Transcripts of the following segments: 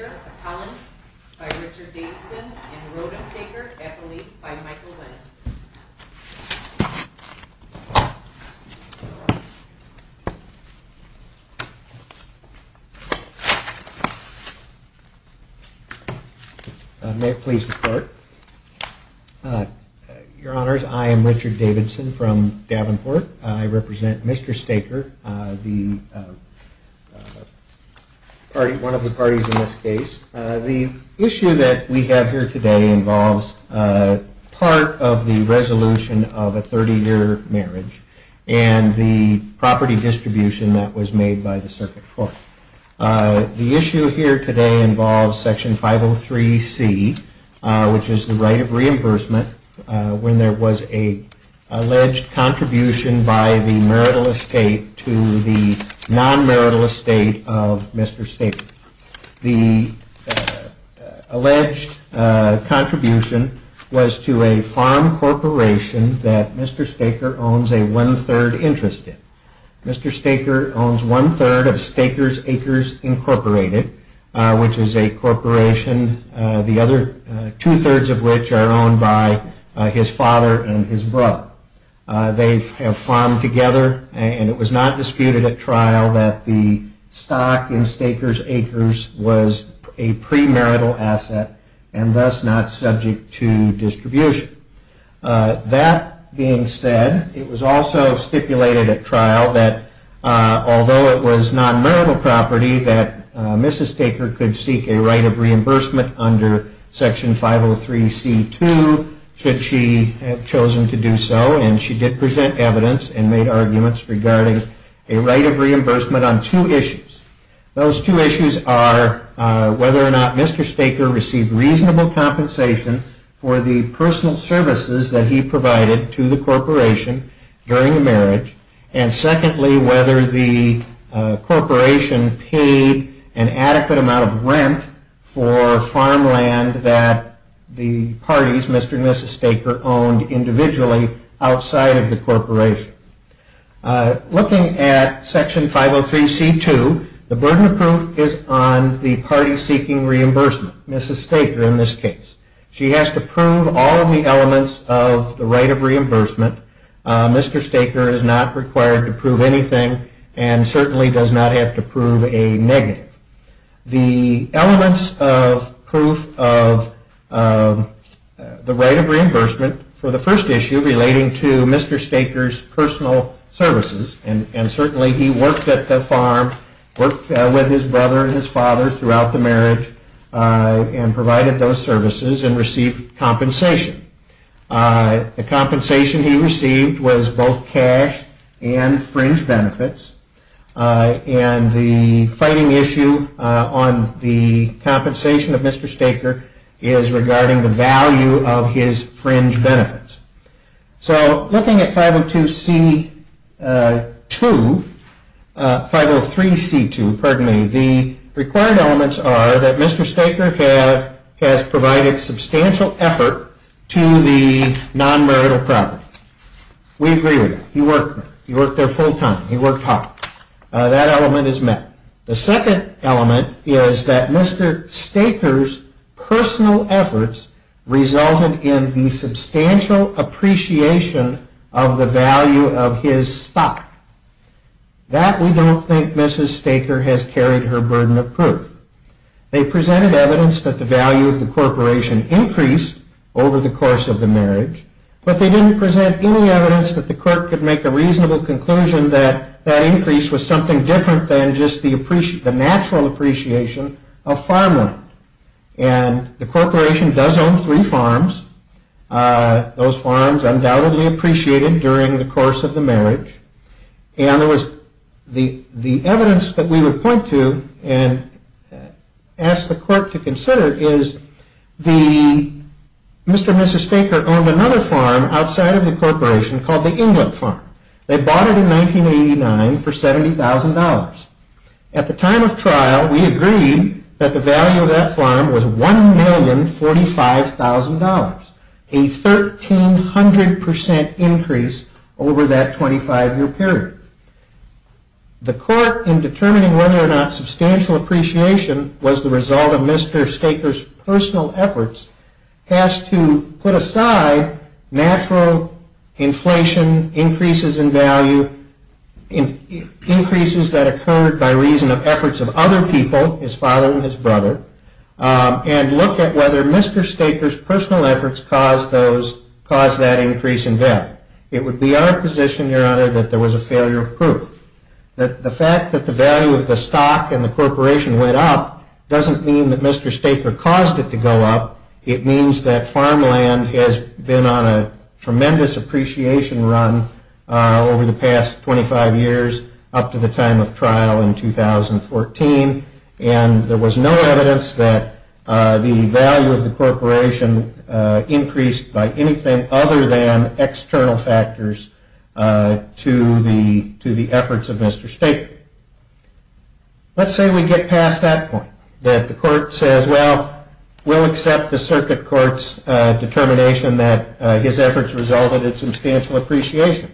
of Collins by Richard Davidson and Rota Staker, Eppole by Michael Wendt. May it please the court. Your honors, I am Richard Davidson from Davenport. I represent Mr. Staker, one of the parties in this case. The issue that we have here today involves part of the resolution of a 30 year marriage and the property distribution that was made by the circuit court. The issue here today involves Section 503C, which is the right of reimbursement when there was an alleged contribution by the marital estate to the non-marital estate of Mr. Staker. The alleged contribution was to a farm corporation that Mr. Staker owns a one-third interest in. Mr. Staker owns one-third of Stakers Acres Incorporated, which is a corporation, two-thirds of which are owned by his father and his brother. They have farmed together and it was not disputed at trial that the stock in Stakers Acres was a pre-marital asset and thus not subject to distribution. That being said, it was also stipulated at trial that although it was non-marital property that Mrs. Staker could seek a right of reimbursement under Section 503C2 should she have chosen to do so. And she did present evidence and made arguments regarding a right of reimbursement on two issues. Those two issues are whether or not Mr. Staker received reasonable compensation for the personal services that he provided to the corporation during the marriage. And secondly, whether the corporation paid an adequate amount of rent for farmland that the parties Mr. and Mrs. Staker owned individually outside of the corporation. Looking at Section 503C2, the burden of proof is on the party seeking reimbursement, Mrs. Staker in this case. She has to prove all of the elements of the right of reimbursement. Mr. Staker is not required to prove anything and certainly does not have to prove a negative. The elements of proof of the right of reimbursement for the first issue relating to Mr. Staker's personal services, and certainly he worked at the farm, worked with his brother and his father throughout the marriage and provided those services and received compensation. The compensation he received was both cash and fringe benefits. And the fighting issue on the compensation of Mr. Staker is regarding the value of his fringe benefits. So looking at 503C2, the required elements are that Mr. Staker has provided substantial effort to the non-marital property. We agree with that. He worked there full time. He worked hard. That element is met. The second element is that Mr. Staker's personal efforts resulted in the substantial appreciation of the value of his stock. That we don't think Mrs. Staker has carried her burden of proof. They presented evidence that the value of the corporation increased over the course of the marriage, but they didn't present any evidence that the court could make a reasonable conclusion that that increase was something different than just the natural appreciation of farmland. And the corporation does own three farms. Those farms undoubtedly appreciated during the course of the marriage. And the evidence that we would point to and ask the court to consider is Mr. and Mrs. Staker owned another farm outside of the corporation called the England Farm. They bought it in 1989 for $70,000. At the time of trial, we agreed that the value of that farm was $1,045,000, a 1,300% increase over that 25-year period. The court, in determining whether or not substantial appreciation was the result of Mr. Staker's personal efforts, has to put aside natural inflation, increases in value, increases that occurred by reason of efforts of other people, his father and his brother, and look at whether Mr. Staker's personal efforts caused that increase in value. It would be our position, Your Honor, that there was a failure of proof. The fact that the value of the stock in the corporation went up doesn't mean that Mr. Staker caused it to go up. It means that farmland has been on a tremendous appreciation run over the past 25 years up to the time of trial in 2014. There was no evidence that the value of the corporation increased by anything other than external factors to the efforts of Mr. Staker. Let's say we get past that point, that the court says, well, we'll accept the circuit court's determination that his efforts resulted in substantial appreciation.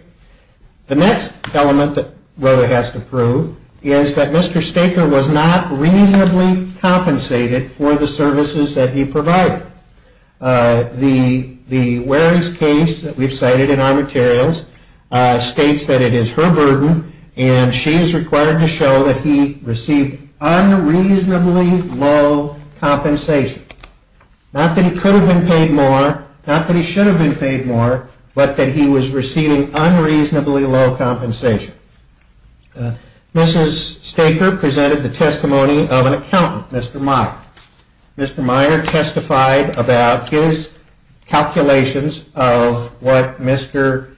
The next element that Broder has to prove is that Mr. Staker was not reasonably compensated for the services that he provided. The Warey's case that we've cited in our materials states that it is her burden, and she is required to show that he received unreasonably low compensation. Not that he could have been paid more, not that he should have been paid more, but that he was receiving unreasonably low compensation. Mrs. Staker presented the testimony of an accountant, Mr. Meyer. Mr. Meyer testified about his calculations of what Mr.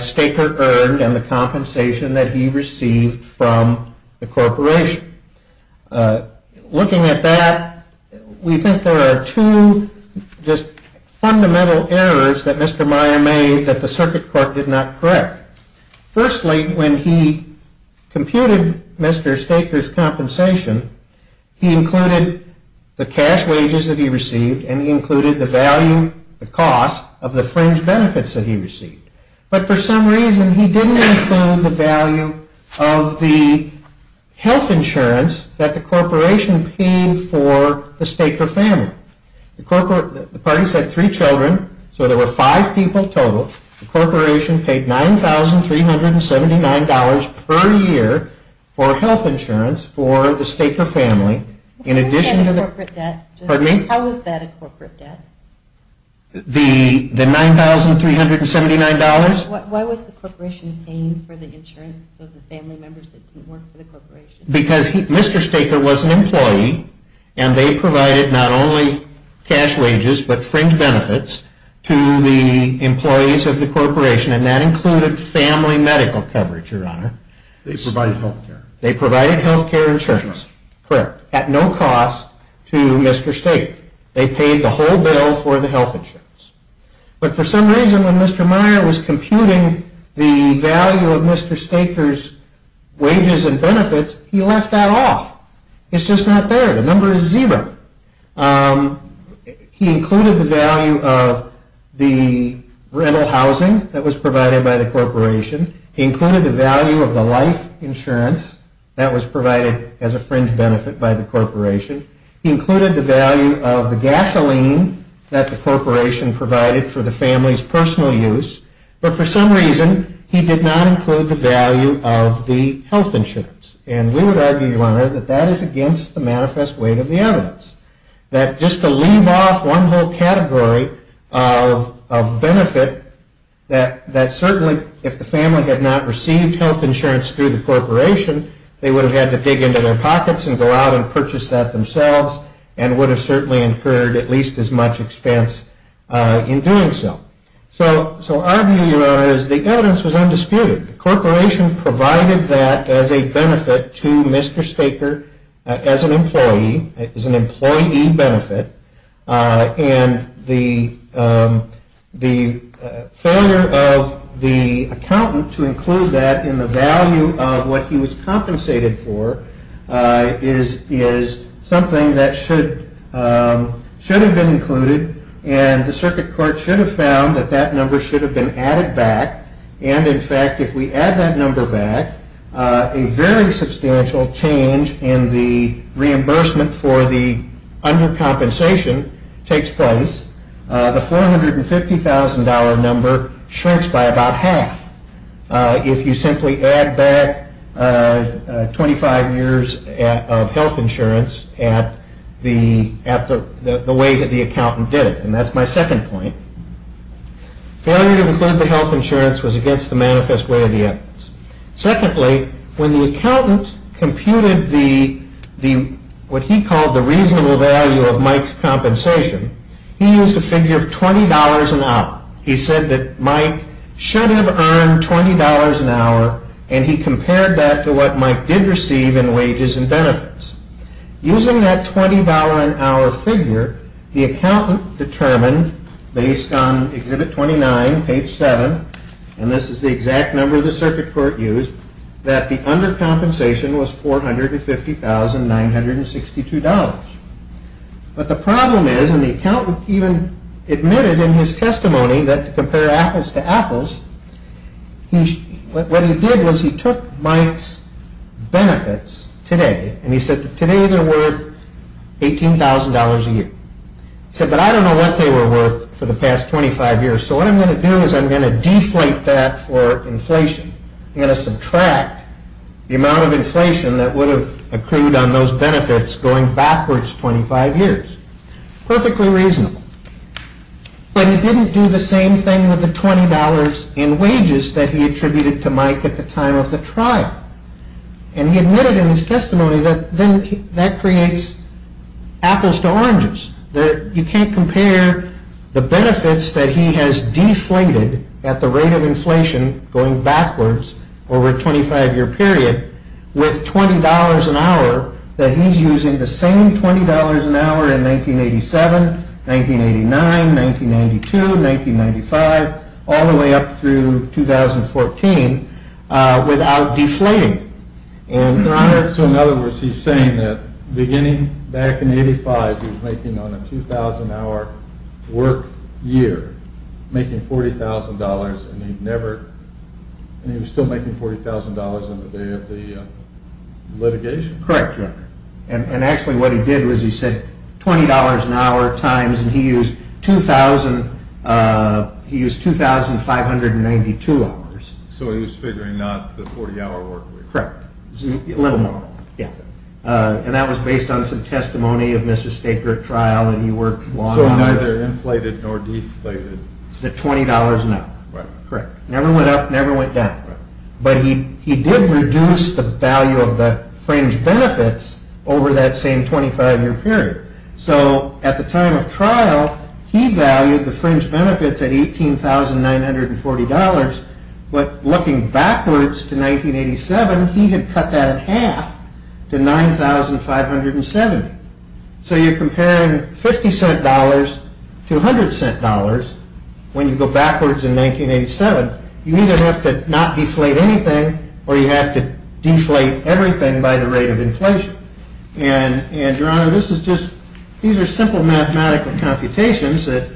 Staker earned and the compensation that he received from the corporation. Looking at that, we think there are two just fundamental errors that Mr. Meyer made that the circuit court did not correct. Firstly, when he computed Mr. Staker's compensation, he included the cash wages that he received and he included the value, the cost of the fringe benefits that he received. But for some reason, he didn't include the value of the health insurance that the corporation paid for the Staker family. The parties had three children, so there were five people total. The corporation paid $9,379 per year for health insurance for the Staker family. How is that a corporate debt? The $9,379? Why was the corporation paying for the insurance of the family members that didn't work for the corporation? Because Mr. Staker was an employee and they provided not only cash wages but fringe benefits to the employees of the corporation and that included family medical coverage, Your Honor. They provided health care. They provided health care insurance. Correct. At no cost to Mr. Staker. They paid the whole bill for the health insurance. But for some reason, when Mr. Meyer was computing the value of Mr. Staker's wages and benefits, he left that off. It's just not there. The number is zero. He included the value of the rental housing that was provided by the corporation. He included the value of the life insurance that was provided as a fringe benefit by the corporation. He included the value of the gasoline that the corporation provided for the family's personal use. But for some reason, he did not include the value of the health insurance. And we would argue, Your Honor, that that is against the manifest weight of the evidence. That just to leave off one whole category of benefit, that certainly if the family had not received health insurance through the corporation, they would have had to dig into their pockets and go out and purchase that themselves and would have certainly incurred at least as much expense in doing so. So our view, Your Honor, is the evidence was undisputed. The corporation provided that as a benefit to Mr. Staker as an employee, as an employee benefit. And the failure of the accountant to include that in the value of what he was compensated for is something that should have been included. And the circuit court should have found that that number should have been added back. And, in fact, if we add that number back, a very substantial change in the reimbursement for the undercompensation takes place. The $450,000 number shrinks by about half if you simply add back 25 years of health insurance at the way that the accountant did it. And that's my second point. Failure to include the health insurance was against the manifest way of the evidence. Secondly, when the accountant computed what he called the reasonable value of Mike's compensation, he used a figure of $20 an hour. He said that Mike should have earned $20 an hour, and he compared that to what Mike did receive in wages and benefits. Using that $20 an hour figure, the accountant determined, based on Exhibit 29, page 7, and this is the exact number the circuit court used, that the undercompensation was $450,962. But the problem is, and the accountant even admitted in his testimony that to compare apples to apples, what he did was he took Mike's benefits today, and he said that today they're worth $18,000 a year. He said, but I don't know what they were worth for the past 25 years, so what I'm going to do is I'm going to deflate that for inflation. I'm going to subtract the amount of inflation that would have accrued on those benefits going backwards 25 years. Perfectly reasonable. But he didn't do the same thing with the $20 in wages that he attributed to Mike at the time of the trial. And he admitted in his testimony that that creates apples to oranges. You can't compare the benefits that he has deflated at the rate of inflation going backwards over a 25-year period with $20 an hour that he's using the same $20 an hour in 1987, 1989, 1992, 1995, all the way up through 2014 without deflating. So in other words, he's saying that beginning back in 1985, he was making on a 2,000-hour work year, making $40,000, and he was still making $40,000 on the day of the litigation? Correct. And actually what he did was he said $20 an hour times, and he used $2,592. So he was figuring not the 40-hour work week. Correct. A little more, yeah. And that was based on some testimony of Mr. Staker at trial, and he worked long hours. So neither inflated nor deflated. The $20 an hour. Correct. Never went up, never went down. But he did reduce the value of the fringe benefits over that same 25-year period. So at the time of trial, he valued the fringe benefits at $18,940. But looking backwards to 1987, he had cut that in half to $9,570. So you're comparing $0.50 to $0.01 when you go backwards in 1987. You either have to not deflate anything or you have to deflate everything by the rate of inflation. And, Your Honor, this is just, these are simple mathematical computations that,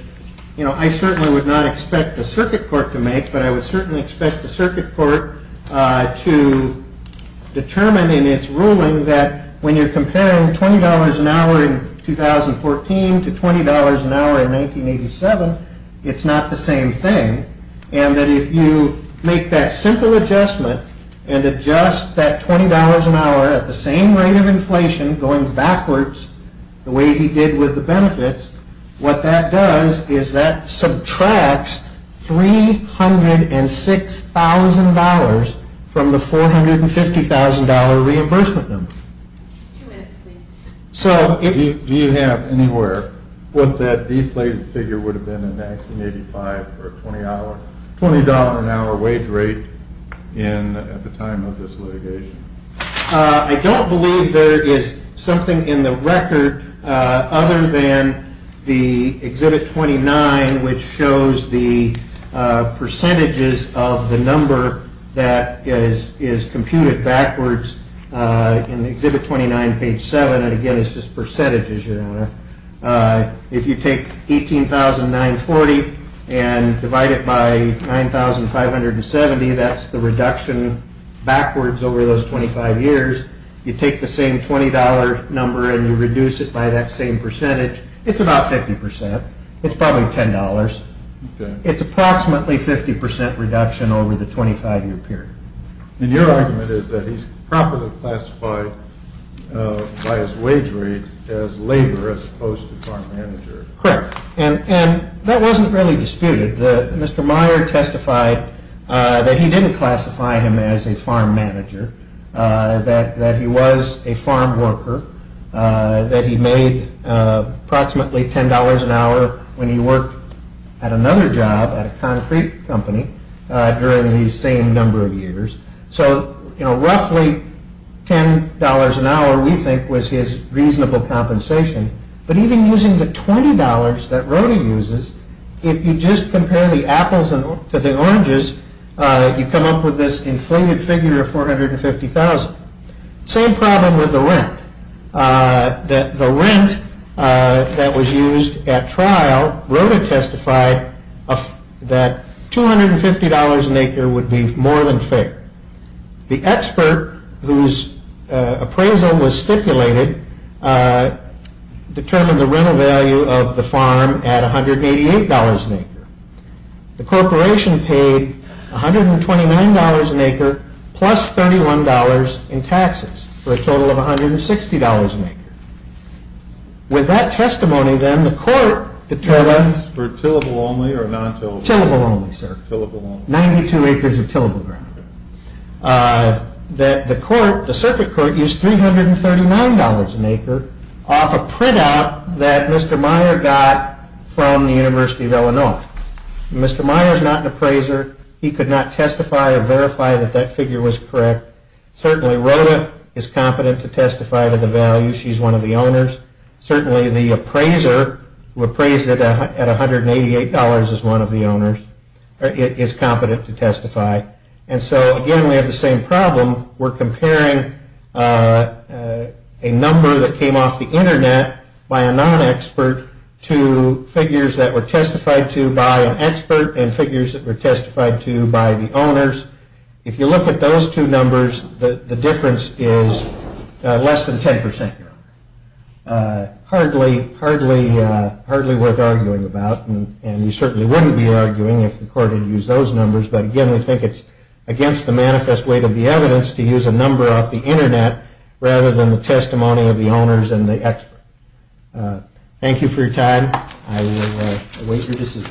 you know, I certainly would not expect the circuit court to make, but I would certainly expect the circuit court to determine in its ruling that when you're comparing $20 an hour in 2014 to $20 an hour in 1987, it's not the same thing. And that if you make that simple adjustment and adjust that $20 an hour at the same rate of inflation going backwards, the way he did with the benefits, what that does is that subtracts $306,000 from the $450,000 reimbursement number. Do you have anywhere what that deflated figure would have been in 1985 for a $20 an hour wage rate at the time of this litigation? I don't believe there is something in the record other than the Exhibit 29, which shows the percentages of the number that is computed backwards in Exhibit 29, page 7. And again, it's just percentages, Your Honor. If you take $18,940 and divide it by $9,570, that's the reduction backwards over those 25 years. You take the same $20 number and you reduce it by that same percentage, it's about 50%. It's probably $10. It's approximately 50% reduction over the 25-year period. And your argument is that he's properly classified by his wage rate as labor as opposed to farm manager. Correct. And that wasn't really disputed. Mr. Meyer testified that he didn't classify him as a farm manager, that he was a farm worker, that he made approximately $10 an hour when he worked at another job at a concrete company during the same number of years. So roughly $10 an hour, we think, was his reasonable compensation. But even using the $20 that Rode uses, if you just compare the apples to the oranges, you come up with this inflated figure of $450,000. Same problem with the rent. The rent that was used at trial, Rode testified that $250 an acre would be more than fair. The expert whose appraisal was stipulated determined the rental value of the farm at $188 an acre. The corporation paid $129 an acre plus $31 in taxes for a total of $160 an acre. With that testimony, then, the court determined... For tillable only or non-tillable? Tillable only, sir. Tillable only. 92 acres of tillable ground. The circuit court used $339 an acre off a printout that Mr. Meyer got from the University of Illinois. Mr. Meyer is not an appraiser. He could not testify or verify that that figure was correct. Certainly, Rode is competent to testify to the value. She's one of the owners. Certainly, the appraiser, who appraised it at $188, is one of the owners, is competent to testify. And so, again, we have the same problem. We're comparing a number that came off the Internet by a non-expert to figures that were testified to by an expert and figures that were testified to by the owners. If you look at those two numbers, the difference is less than 10%. Hardly worth arguing about. And you certainly wouldn't be arguing if the court had used those numbers. But, again, we think it's against the manifest weight of the evidence to use a number off the Internet rather than the testimony of the owners and the expert. Thank you for your time. I will await your decision.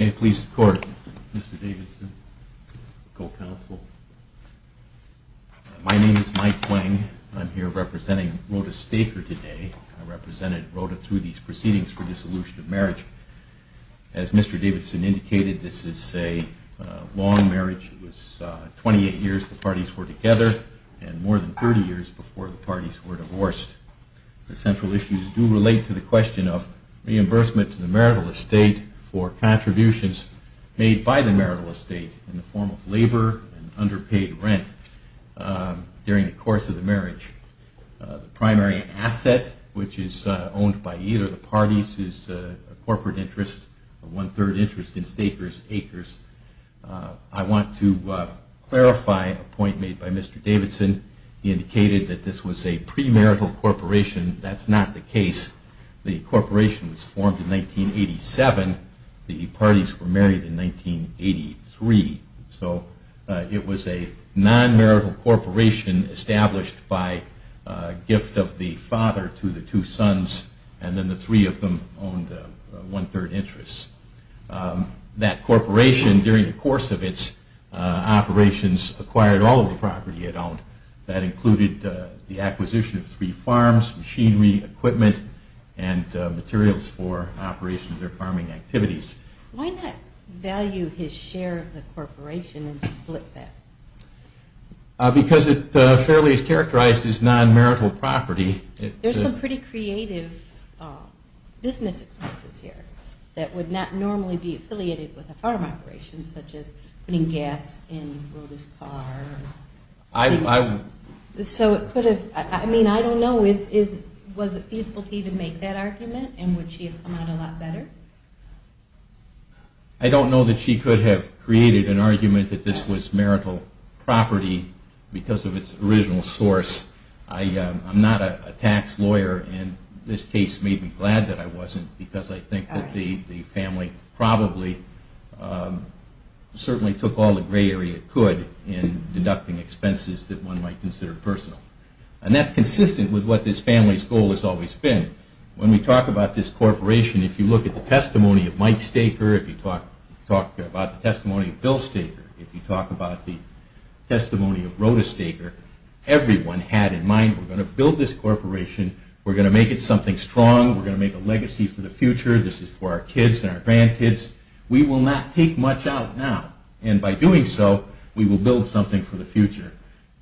May it please the Court. Mr. Davidson, co-counsel. My name is Mike Wang. I'm here representing Rode Staker today. I represented Rode through these proceedings for dissolution of marriage. As Mr. Davidson indicated, this is a long marriage. It was 28 years the parties were together and more than 30 years before the parties were divorced. The central issues do relate to the question of reimbursement to the marital estate for contributions made by the marital estate in the form of labor and underpaid rent during the course of the marriage. The primary asset, which is owned by either of the parties, is a corporate interest, a one-third interest in Stakers Acres. I want to clarify a point made by Mr. Davidson. He indicated that this was a premarital corporation. That's not the case. The corporation was formed in 1987. The parties were married in 1983. So it was a non-marital corporation established by gift of the father to the two sons and then the three of them owned one-third interests. That corporation, during the course of its operations, acquired all of the property it owned. That included the acquisition of three farms, machinery, equipment, and materials for operations or farming activities. Why not value his share of the corporation and split that? Because it fairly is characterized as non-marital property. There's some pretty creative business expenses here that would not normally be affiliated with a farm operation, such as putting gas in Roby's car. I don't know. Was it feasible to even make that argument, and would she have come out a lot better? I don't know that she could have created an argument that this was marital property because of its original source. I'm not a tax lawyer, and this case made me glad that I wasn't, because I think that the family probably certainly took all the gray area it could in deducting expenses that one might consider personal. And that's consistent with what this family's goal has always been. When we talk about this corporation, if you look at the testimony of Mike Staker, if you talk about the testimony of Bill Staker, if you talk about the testimony of Rhoda Staker, everyone had in mind, we're going to build this corporation. We're going to make it something strong. We're going to make a legacy for the future. This is for our kids and our grandkids. We will not take much out now, and by doing so, we will build something for the future.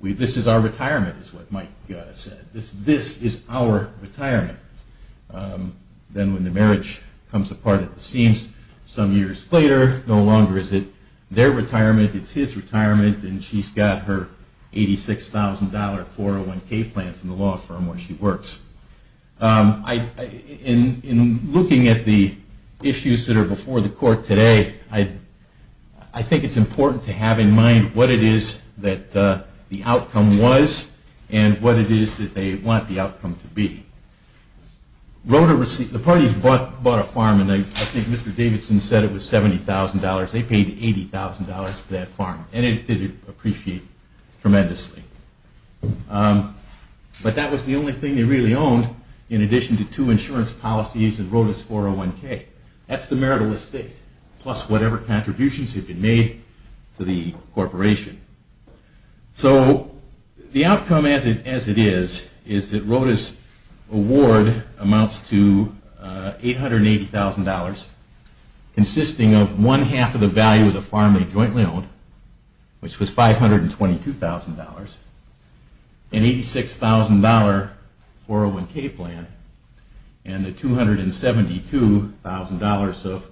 This is our retirement, is what Mike said. This is our retirement. Then when the marriage comes apart at the seams some years later, no longer is it their retirement. It's his retirement, and she's got her $86,000 401K plan from the law firm where she works. In looking at the issues that are before the court today, I think it's important to have in mind what it is that the outcome was and what it is that they want the outcome to be. The parties bought a farm, and I think Mr. Davidson said it was $70,000. They paid $80,000 for that farm, and it did appreciate tremendously. But that was the only thing they really owned in addition to two insurance policies and Rhoda's 401K. That's the marital estate, plus whatever contributions have been made to the corporation. So the outcome as it is, is that Rhoda's award amounts to $880,000 consisting of one half of the value of the farm they jointly owned, which was $522,000, an $86,000 401K plan, and the $272,000 of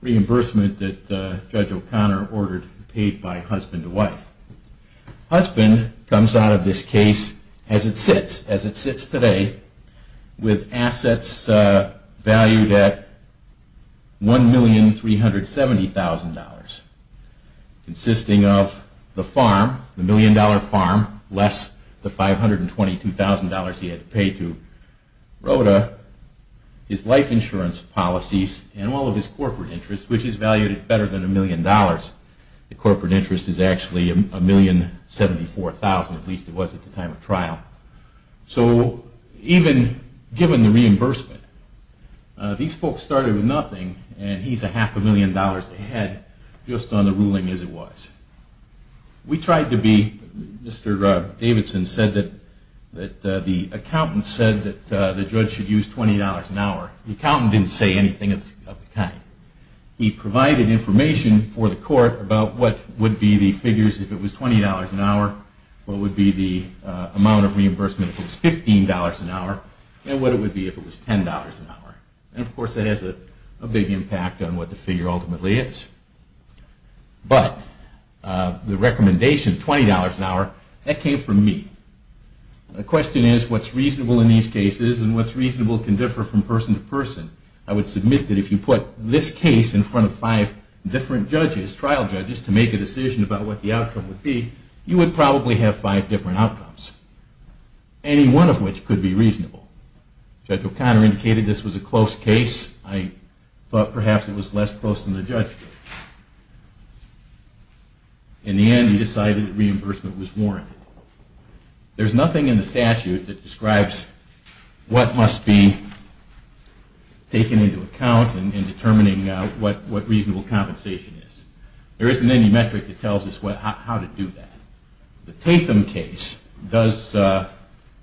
reimbursement that Judge O'Connor ordered paid by husband and wife. Husband comes out of this case as it sits today with assets valued at $1,370,000. Consisting of the farm, the $1,000,000 farm, less the $522,000 he had to pay to Rhoda, his life insurance policies, and all of his corporate interest, which is valued at better than $1,000,000. The corporate interest is actually $1,074,000, at least it was at the time of trial. So even given the reimbursement, these folks started with nothing, and he's a half a million dollars ahead just on the ruling as it was. We tried to be, Mr. Davidson said that the accountant said that the judge should use $20 an hour. The accountant didn't say anything of the kind. He provided information for the court about what would be the figures if it was $20 an hour, what would be the amount of reimbursement if it was $15 an hour, and what it would be if it was $10 an hour. And of course, that has a big impact on what the figure ultimately is. But the recommendation, $20 an hour, that came from me. The question is what's reasonable in these cases, and what's reasonable can differ from person to person. I would submit that if you put this case in front of five different judges, trial judges, to make a decision about what the outcome would be, you would probably have five different outcomes, any one of which could be reasonable. Judge O'Connor indicated this was a close case. I thought perhaps it was less close than the judge did. In the end, he decided that reimbursement was warranted. There's nothing in the statute that describes what must be taken into account in determining what reasonable compensation is. There isn't any metric that tells us how to do that. The Tatham case does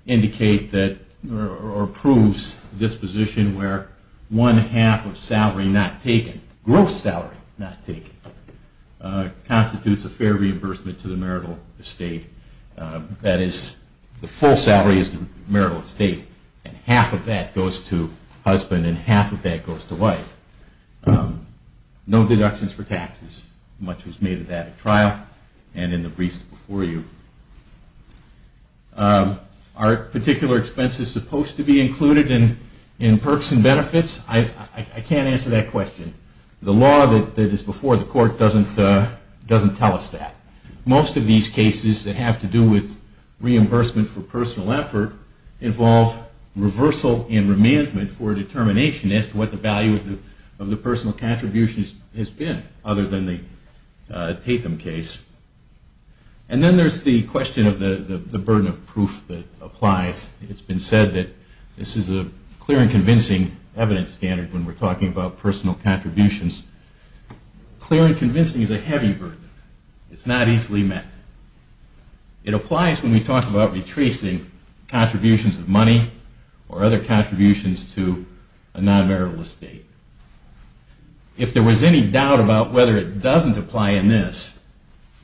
indicate or proves this position where one half of gross salary not taken constitutes a fair reimbursement to the marital estate. That is, the full salary is the marital estate, and half of that goes to husband and half of that goes to wife. No deductions for taxes. Much was made of that at trial and in the briefs before you. Are particular expenses supposed to be included in perks and benefits? I can't answer that question. The law that is before the court doesn't tell us that. Most of these cases that have to do with reimbursement for personal effort involve reversal and remandment for determination as to what the value of the personal contribution has been other than the Tatham case. And then there's the question of the burden of proof that applies. It's been said that this is a clear and convincing evidence standard when we're talking about personal contributions. Clear and convincing is a heavy burden. It's not easily met. It applies when we talk about retracing contributions of money or other contributions to a non-marital estate. If there was any doubt about whether it doesn't apply in this,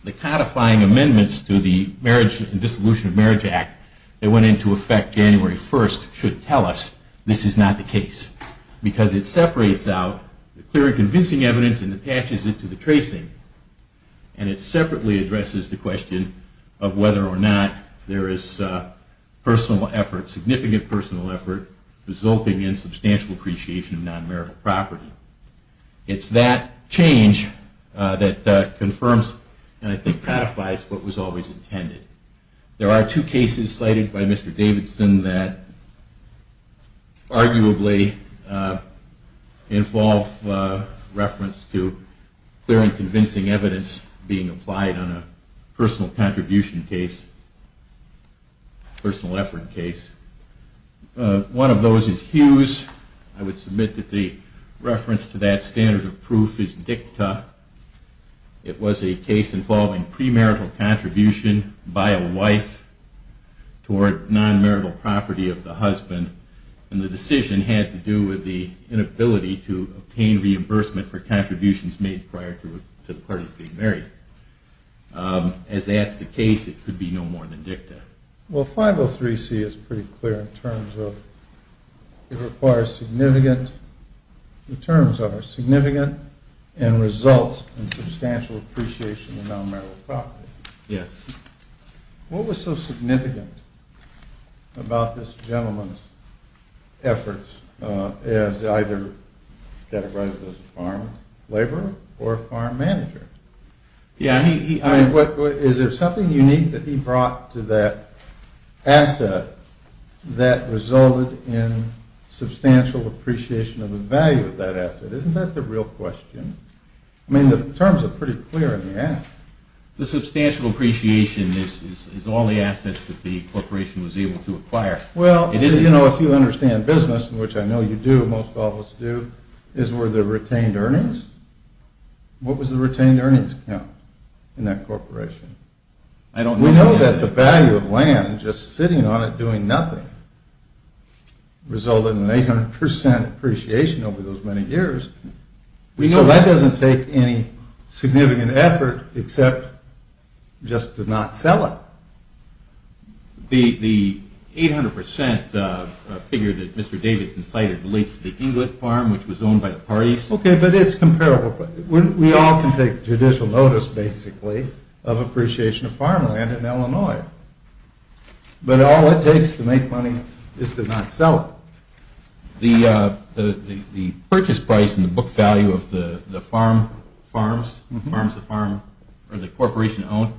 the codifying amendments to the Marriage and Dissolution of Marriage Act that went into effect January 1st should tell us this is not the case. Because it separates out the clear and convincing evidence and attaches it to the tracing. And it separately addresses the question of whether or not there is personal effort, significant personal effort, resulting in substantial appreciation of non-marital property. It's that change that confirms and I think codifies what was always intended. There are two cases cited by Mr. Davidson that arguably involve reference to clear and convincing evidence being applied on a personal contribution case, personal effort case. One of those is Hughes. I would submit that the reference to that standard of proof is DICTA. It was a case involving premarital contribution by a wife toward non-marital property of the husband. And the decision had to do with the inability to obtain reimbursement for contributions made prior to the party being married. As that's the case, it could be no more than DICTA. Well, 503C is pretty clear in terms of it requires significant, the terms of it are significant and results in substantial appreciation of non-marital property. Yes. What was so significant about this gentleman's efforts as either categorized as a farm laborer or a farm manager? Yeah. Is there something unique that he brought to that asset that resulted in substantial appreciation of the value of that asset? Isn't that the real question? I mean, the terms are pretty clear in the act. The substantial appreciation is all the assets that the corporation was able to acquire. Well, if you understand business, which I know you do, most of us do, is where the retained earnings. What was the retained earnings count in that corporation? I don't know. We know that the value of land, just sitting on it doing nothing, resulted in 800% appreciation over those many years. We know that doesn't take any significant effort except just to not sell it. The 800% figure that Mr. Davidson cited relates to the Eaglet Farm, which was owned by the parties. Okay, but it's comparable. We all can take judicial notice, basically, of appreciation of farmland in Illinois. But all it takes to make money is to not sell it. The purchase price in the book value of the farms the corporation owned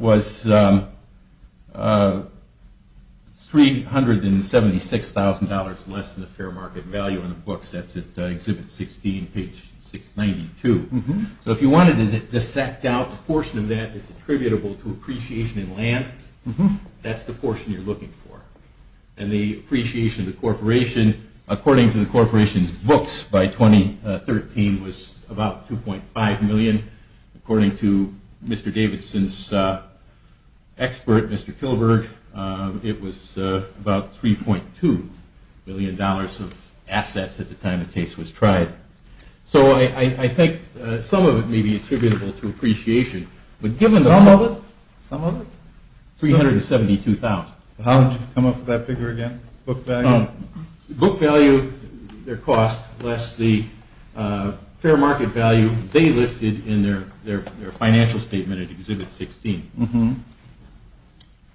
was $376,000 less than the fair market value in the book. That's at Exhibit 16, page 692. So if you wanted to dissect out a portion of that that's attributable to appreciation in land, that's the portion you're looking for. And the appreciation of the corporation, according to the corporation's books, by 2013 was about $2.5 million. According to Mr. Davidson's expert, Mr. Kilberg, it was about $3.2 million of assets at the time the case was tried. So I think some of it may be attributable to appreciation. Some of it? Some of it. $372,000. How would you come up with that figure again? Book value? Book value, their cost, less the fair market value they listed in their financial statement at Exhibit 16.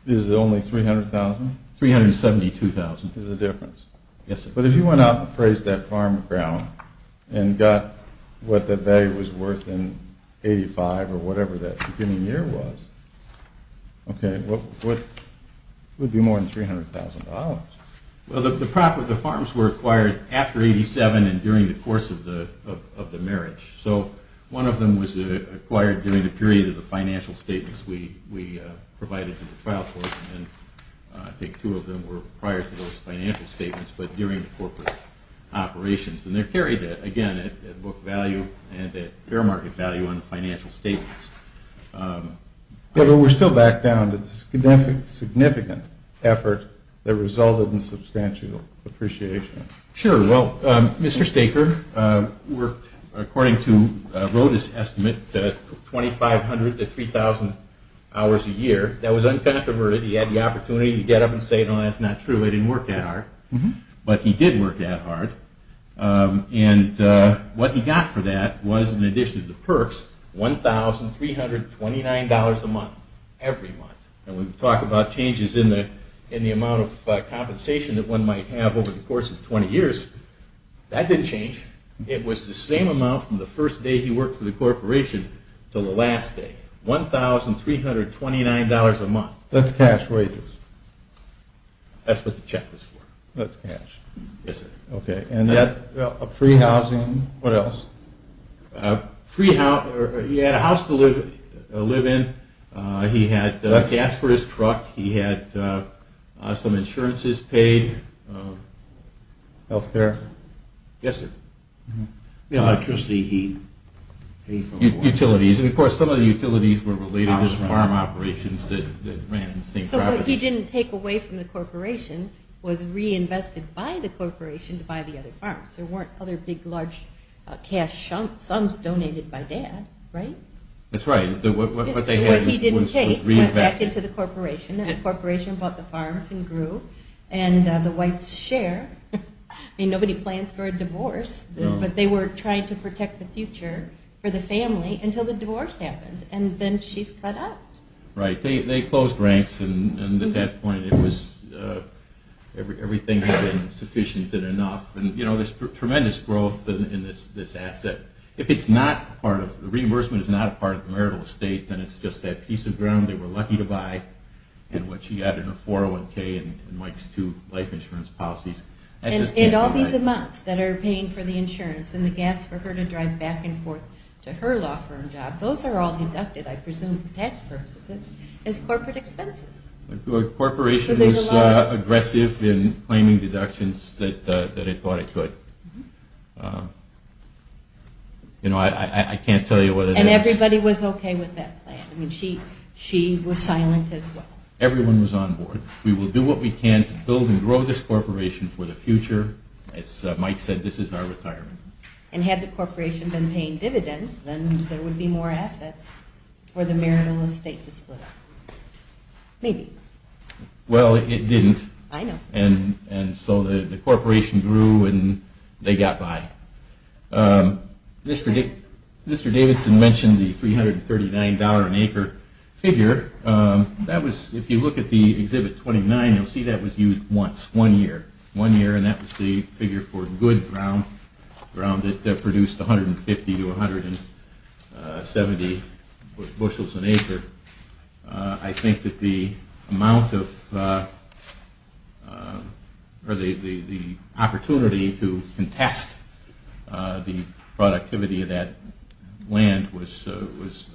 Is it only $300,000? $372,000. There's a difference. Yes, sir. But if you went out and appraised that farm ground and got what that value was worth in 85 or whatever that beginning year was, okay, what would be more than $300,000? Well, the farms were acquired after 87 and during the course of the marriage. So one of them was acquired during the period of the financial statements we provided in the trial court, and I think two of them were prior to those financial statements, but during the corporate operations. And they're carried, again, at book value and at fair market value on the financial statements. But we're still back down to the significant effort that resulted in substantial appreciation. Sure. Well, Mr. Staker worked, according to Roda's estimate, 2,500 to 3,000 hours a year. That was uncontroverted. He had the opportunity to get up and say, No, that's not true. I didn't work that hard. But he did work that hard. And what he got for that was, in addition to the perks, $1,329 a month every month. And when we talk about changes in the amount of compensation that one might have over the course of 20 years, that didn't change. It was the same amount from the first day he worked for the corporation until the last day. $1,329 a month. That's cash raisers. That's what the check was for. That's cash. Yes, sir. Okay. Free housing. What else? He had a house to live in. He asked for his truck. He had some insurances paid. Health care. Yes, sir. Electricity, he paid for. Utilities. And, of course, some of the utilities were related to farm operations that ran St. Robert's. So what he didn't take away from the corporation was reinvested by the corporation to buy the other farms. There weren't other big, large cash sums donated by Dad, right? That's right. So what he didn't take went back into the corporation. And the corporation bought the farms and grew. And the wife's share. I mean, nobody plans for a divorce, but they were trying to protect the future for the family until the divorce happened. And then she's cut out. Right. They closed ranks, and at that point it was everything had been sufficient and enough. And, you know, there's tremendous growth in this asset. If it's not part of the reimbursement, it's not a part of the marital estate, then it's just that piece of ground they were lucky to buy. And what she got in her 401K and Mike's two life insurance policies. And all these amounts that are paying for the insurance and the gas for her to drive back and forth to her law firm job, those are all deducted, I presume, for tax purposes as corporate expenses. The corporation was aggressive in claiming deductions that it thought it could. You know, I can't tell you what it is. And everybody was okay with that plan. I mean, she was silent as well. Everyone was on board. We will do what we can to build and grow this corporation for the future. As Mike said, this is our retirement. And had the corporation been paying dividends, then there would be more assets for the marital estate to split up. Maybe. Well, it didn't. I know. And so the corporation grew and they got by. Mr. Davidson mentioned the $339 an acre figure. That was, if you look at the Exhibit 29, you'll see that was used once, one year. And that was the figure for good ground that produced 150 to 170 bushels an acre. I think that the amount of, or the opportunity to contest the productivity of that land was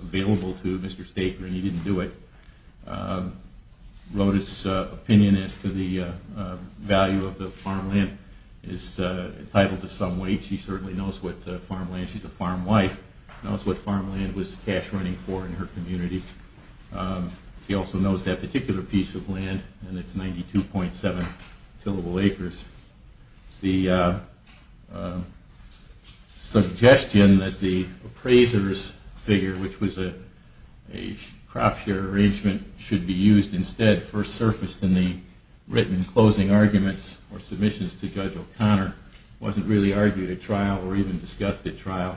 available to Mr. Staker, and he didn't do it. Roda's opinion as to the value of the farmland is entitled to some weight. She certainly knows what farmland, she's a farm wife, knows what farmland was cash running for in her community. She also knows that particular piece of land, and it's 92.7 fillable acres. The suggestion that the appraiser's figure, which was a crop share arrangement, should be used instead, first surfaced in the written closing arguments or submissions to Judge O'Connor, wasn't really argued at trial or even discussed at trial.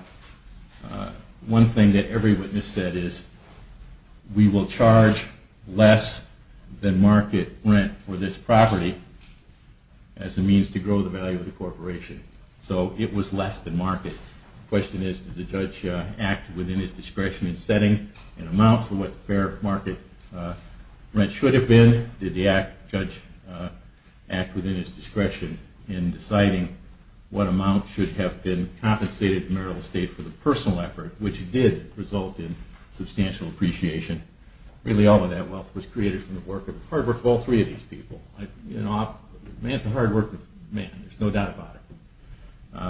One thing that every witness said is, we will charge less than market rent for this property as a means to grow the value of the corporation. So it was less than market. The question is, did the judge act within his discretion in setting an amount for what the fair market rent should have been? Did the judge act within his discretion in deciding what amount should have been compensated in marital estate for the personal effort, which did result in substantial appreciation? Really all of that wealth was created from the hard work of all three of these people. Man's a hard working man, there's no doubt about it.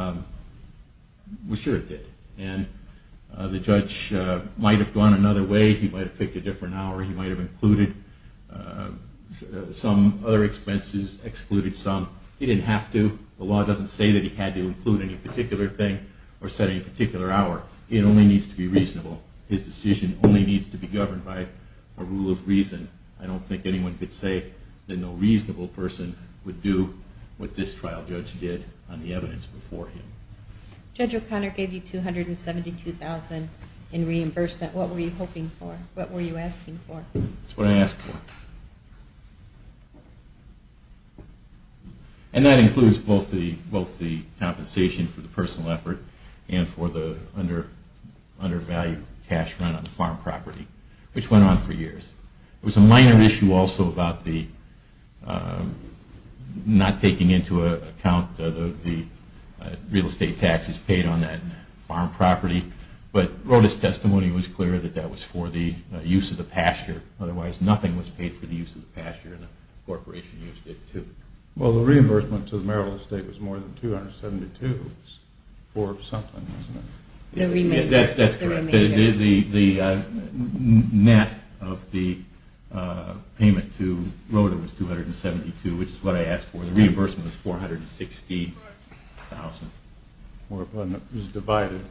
We're sure it did, and the judge might have gone another way, he might have picked a different hour, he might have included some other expenses, excluded some. He didn't have to, the law doesn't say that he had to include any particular thing or set any particular hour. It only needs to be reasonable. His decision only needs to be governed by a rule of reason. I don't think anyone could say that no reasonable person would do what this trial judge did on the evidence before him. Judge O'Connor gave you $272,000 in reimbursement. What were you hoping for? What were you asking for? That's what I asked for. And that includes both the compensation for the personal effort and for the undervalued cash run on the farm property, which went on for years. It was a minor issue also about not taking into account the real estate taxes paid on that farm property, but Rhoda's testimony was clear that that was for the use of the pasture, otherwise nothing was paid for the use of the pasture, and the corporation used it too. Well, the reimbursement to the Maryland State was more than $272,000 for something, wasn't it? That's correct. The net of the payment to Rhoda was $272,000, which is what I asked for. The reimbursement was $460,000. It was divided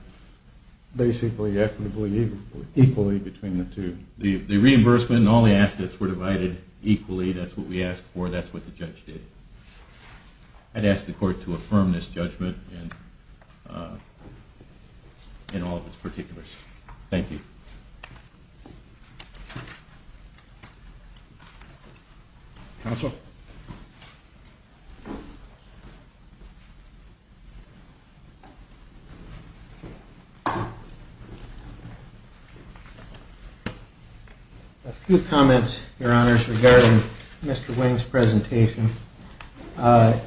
basically equally between the two. The reimbursement and all the assets were divided equally. That's what we asked for. That's what the judge did. I'd ask the court to affirm this judgment in all of its particulars. Thank you. Counsel? A few comments, Your Honors, regarding Mr. Wing's presentation. Rhoda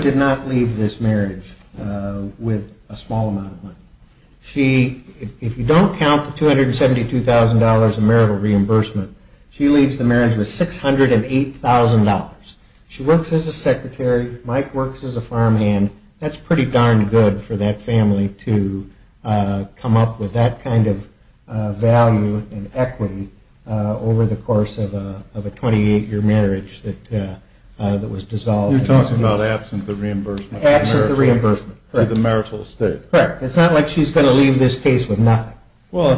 did not leave this marriage with a small amount of money. She, if you don't count the $272,000 of marital reimbursement, she leaves the marriage with $608,000. She works as a secretary. Mike works as a farmhand. That's pretty darn good for that family to come up with that kind of value and equity over the course of a 28-year marriage that was dissolved. You're talking about absent the reimbursement. Absent the reimbursement. Correct. To the marital estate. Correct. It's not like she's going to leave this case with nothing. Well,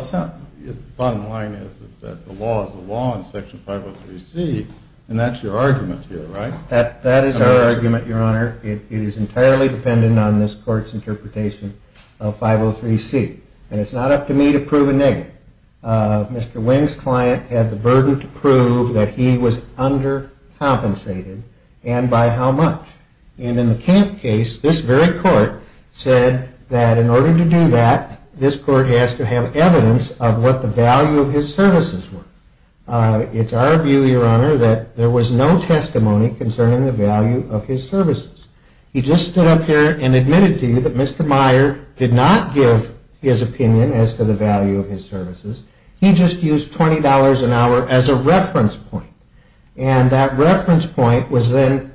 the bottom line is that the law is the law in Section 503C, and that's your argument here, right? That is our argument, Your Honor. It is entirely dependent on this court's interpretation of 503C. And it's not up to me to prove a negative. Mr. Wing's client had the burden to prove that he was undercompensated and by how much. And in the camp case, this very court said that in order to do that, this court has to have evidence of what the value of his services were. It's our view, Your Honor, that there was no testimony concerning the value of his services. He just stood up here and admitted to you that Mr. Meyer did not give his opinion as to the value of his services. He just used $20 an hour as a reference point. And that reference point was then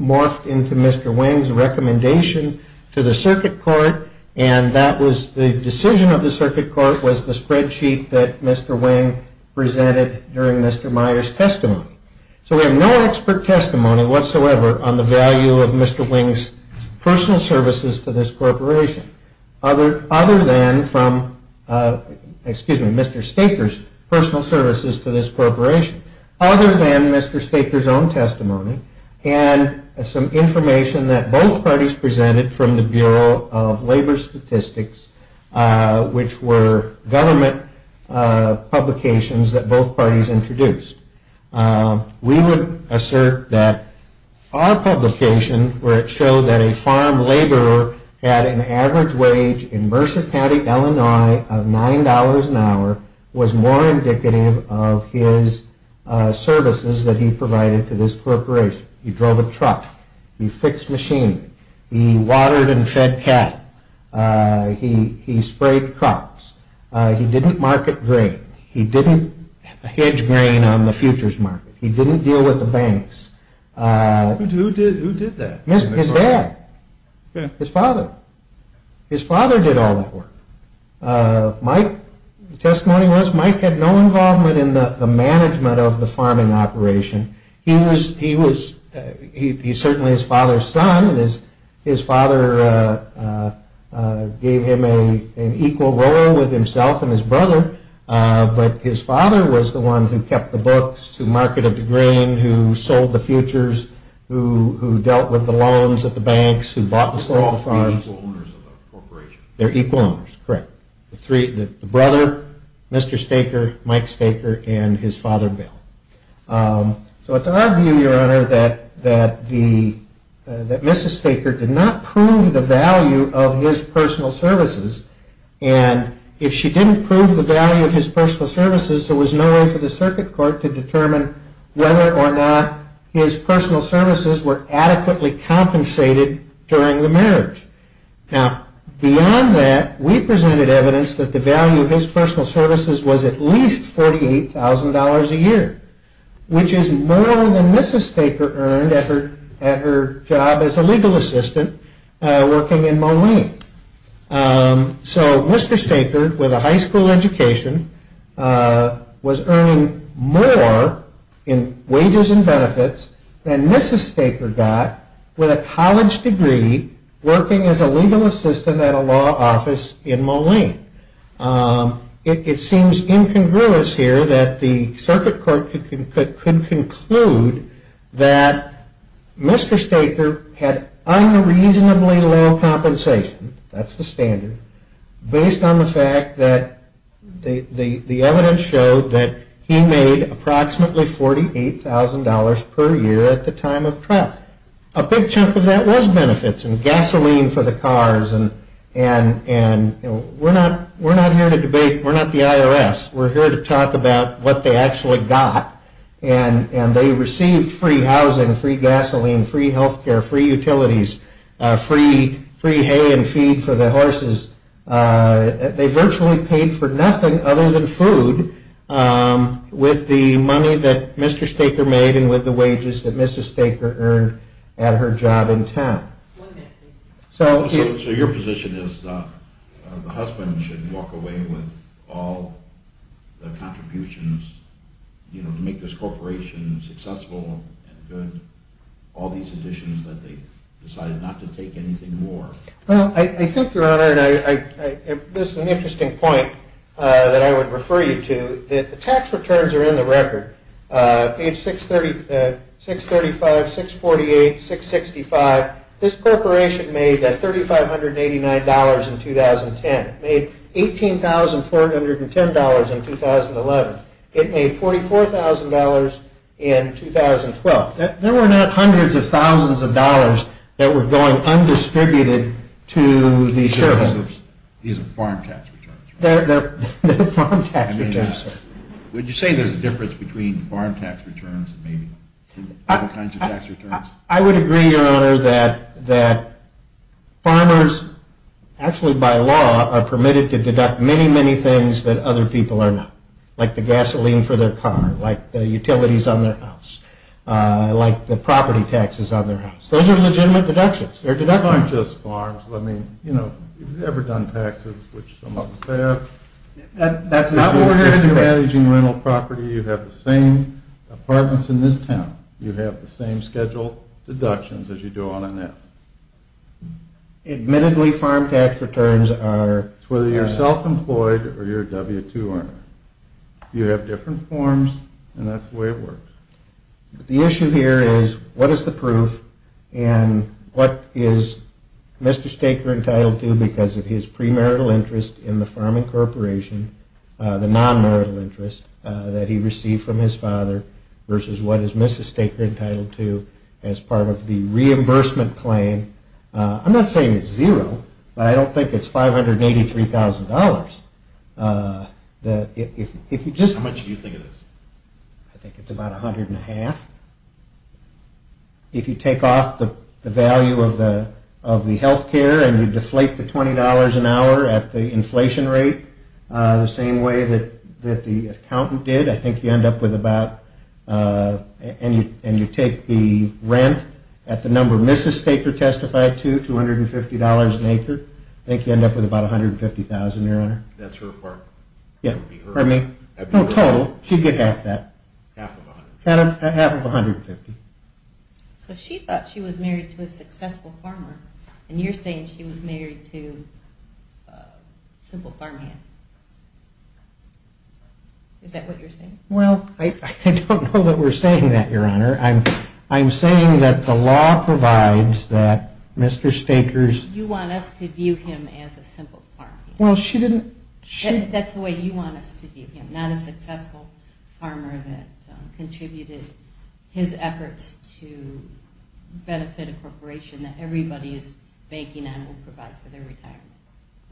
morphed into Mr. Wing's recommendation to the circuit court, and that was the decision of the circuit court was the spreadsheet that Mr. Wing presented during Mr. Meyer's testimony. So we have no expert testimony whatsoever on the value of Mr. Wing's personal services to this corporation other than from, excuse me, Mr. Staker's personal services to this corporation. Other than Mr. Staker's own testimony and some information that both parties presented from the Bureau of Labor Statistics, which were government publications that both parties introduced. We would assert that our publication, where it showed that a farm laborer had an average wage in Mercer County, Illinois of $9 an hour was more indicative of his services that he provided to this corporation. He drove a truck. He fixed machinery. He watered and fed cattle. He sprayed crops. He didn't market grain. He didn't hedge grain on the futures market. He didn't deal with the banks. Who did that? His dad. His father. His father did all that work. My testimony was Mike had no involvement in the management of the farming operation. He was certainly his father's son. His father gave him an equal role with himself and his brother. But his father was the one who kept the books, who marketed the grain, who sold the futures, who dealt with the loans at the banks, who bought and sold the farms. They're all equal owners of the corporation. They're equal owners, correct. The brother, Mr. Staker, Mike Staker, and his father Bill. So it's our view, Your Honor, that Mrs. Staker did not prove the value of his personal services. And if she didn't prove the value of his personal services, there was no way for the circuit court to determine whether or not his personal services were adequately compensated during the marriage. Now, beyond that, we presented evidence that the value of his personal services was at least $48,000 a year, which is more than Mrs. Staker earned at her job as a legal assistant working in Moline. So Mr. Staker, with a high school education, was earning more in wages and benefits than Mrs. Staker got with a college degree working as a legal assistant at a law office in Moline. It seems incongruous here that the circuit court could conclude that Mr. Staker had unreasonably low compensation, that's the standard, based on the fact that the evidence showed that he made approximately $48,000 per year at the time of trial. A big chunk of that was benefits and gasoline for the cars. And we're not here to debate. We're not the IRS. We're here to talk about what they actually got. And they received free housing, free gasoline, free health care, free utilities, free hay and feed for the horses. They virtually paid for nothing other than food with the money that Mr. Staker made and with the wages that Mrs. Staker earned at her job in town. So your position is that the husband should walk away with all the contributions to make this corporation successful and good, all these additions that they decided not to take anything more? Well, I think, Your Honor, and this is an interesting point that I would refer you to, that the tax returns are in the record. Page 635, 648, 665. This corporation made $3,589 in 2010. It made $18,410 in 2011. It made $44,000 in 2012. There were not hundreds of thousands of dollars that were going undistributed to the sheriff. These are farm tax returns. They're farm tax returns. Would you say there's a difference between farm tax returns and maybe other kinds of tax returns? I would agree, Your Honor, that farmers actually by law are permitted to deduct many, many things that other people are not, like the gasoline for their car, like the utilities on their house, like the property taxes on their house. Those are legitimate deductions. They're deductions. These aren't just farms. I mean, you know, if you've ever done taxes, which some of us have. That's not what we're here to do. If you're managing rental property, you have the same apartments in this town. You have the same scheduled deductions as you do on a net. Admittedly, farm tax returns are… It's whether you're self-employed or you're a W-2 earner. You have different forms, and that's the way it works. The issue here is what is the proof and what is Mr. Staker entitled to because of his premarital interest in the farming corporation, the non-marital interest that he received from his father versus what is Mrs. Staker entitled to as part of the reimbursement claim. I'm not saying it's zero, but I don't think it's $583,000. If you just… How much do you think it is? I think it's about $100,500. If you take off the value of the healthcare and you deflate to $20 an hour at the inflation rate, the same way that the accountant did, I think you end up with about… And you take the rent at the number Mrs. Staker testified to, $250 an acre. I think you end up with about $150,000, Your Honor. That's her apartment. Yeah. Pardon me? No, total. She'd get half that. Half of $150,000. Half of $150,000. So she thought she was married to a successful farmer, and you're saying she was married to a simple farmhand. Is that what you're saying? Well, I don't know that we're saying that, Your Honor. I'm saying that the law provides that Mr. Staker's… You want us to view him as a simple farmhand. Well, she didn't… That's the way you want us to view him, not a successful farmer that contributed his efforts to benefit a corporation that everybody is banking on will provide for their retirement.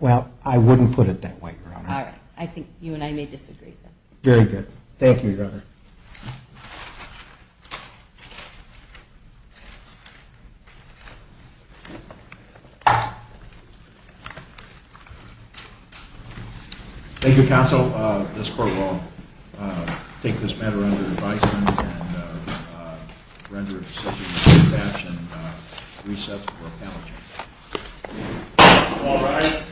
Well, I wouldn't put it that way, Your Honor. All right. I think you and I may disagree. Very good. Thank you, Your Honor. Thank you, counsel. This court will take this matter under advisement and render a decision in a good fashion. Recess for the panel. Thank you. All rise.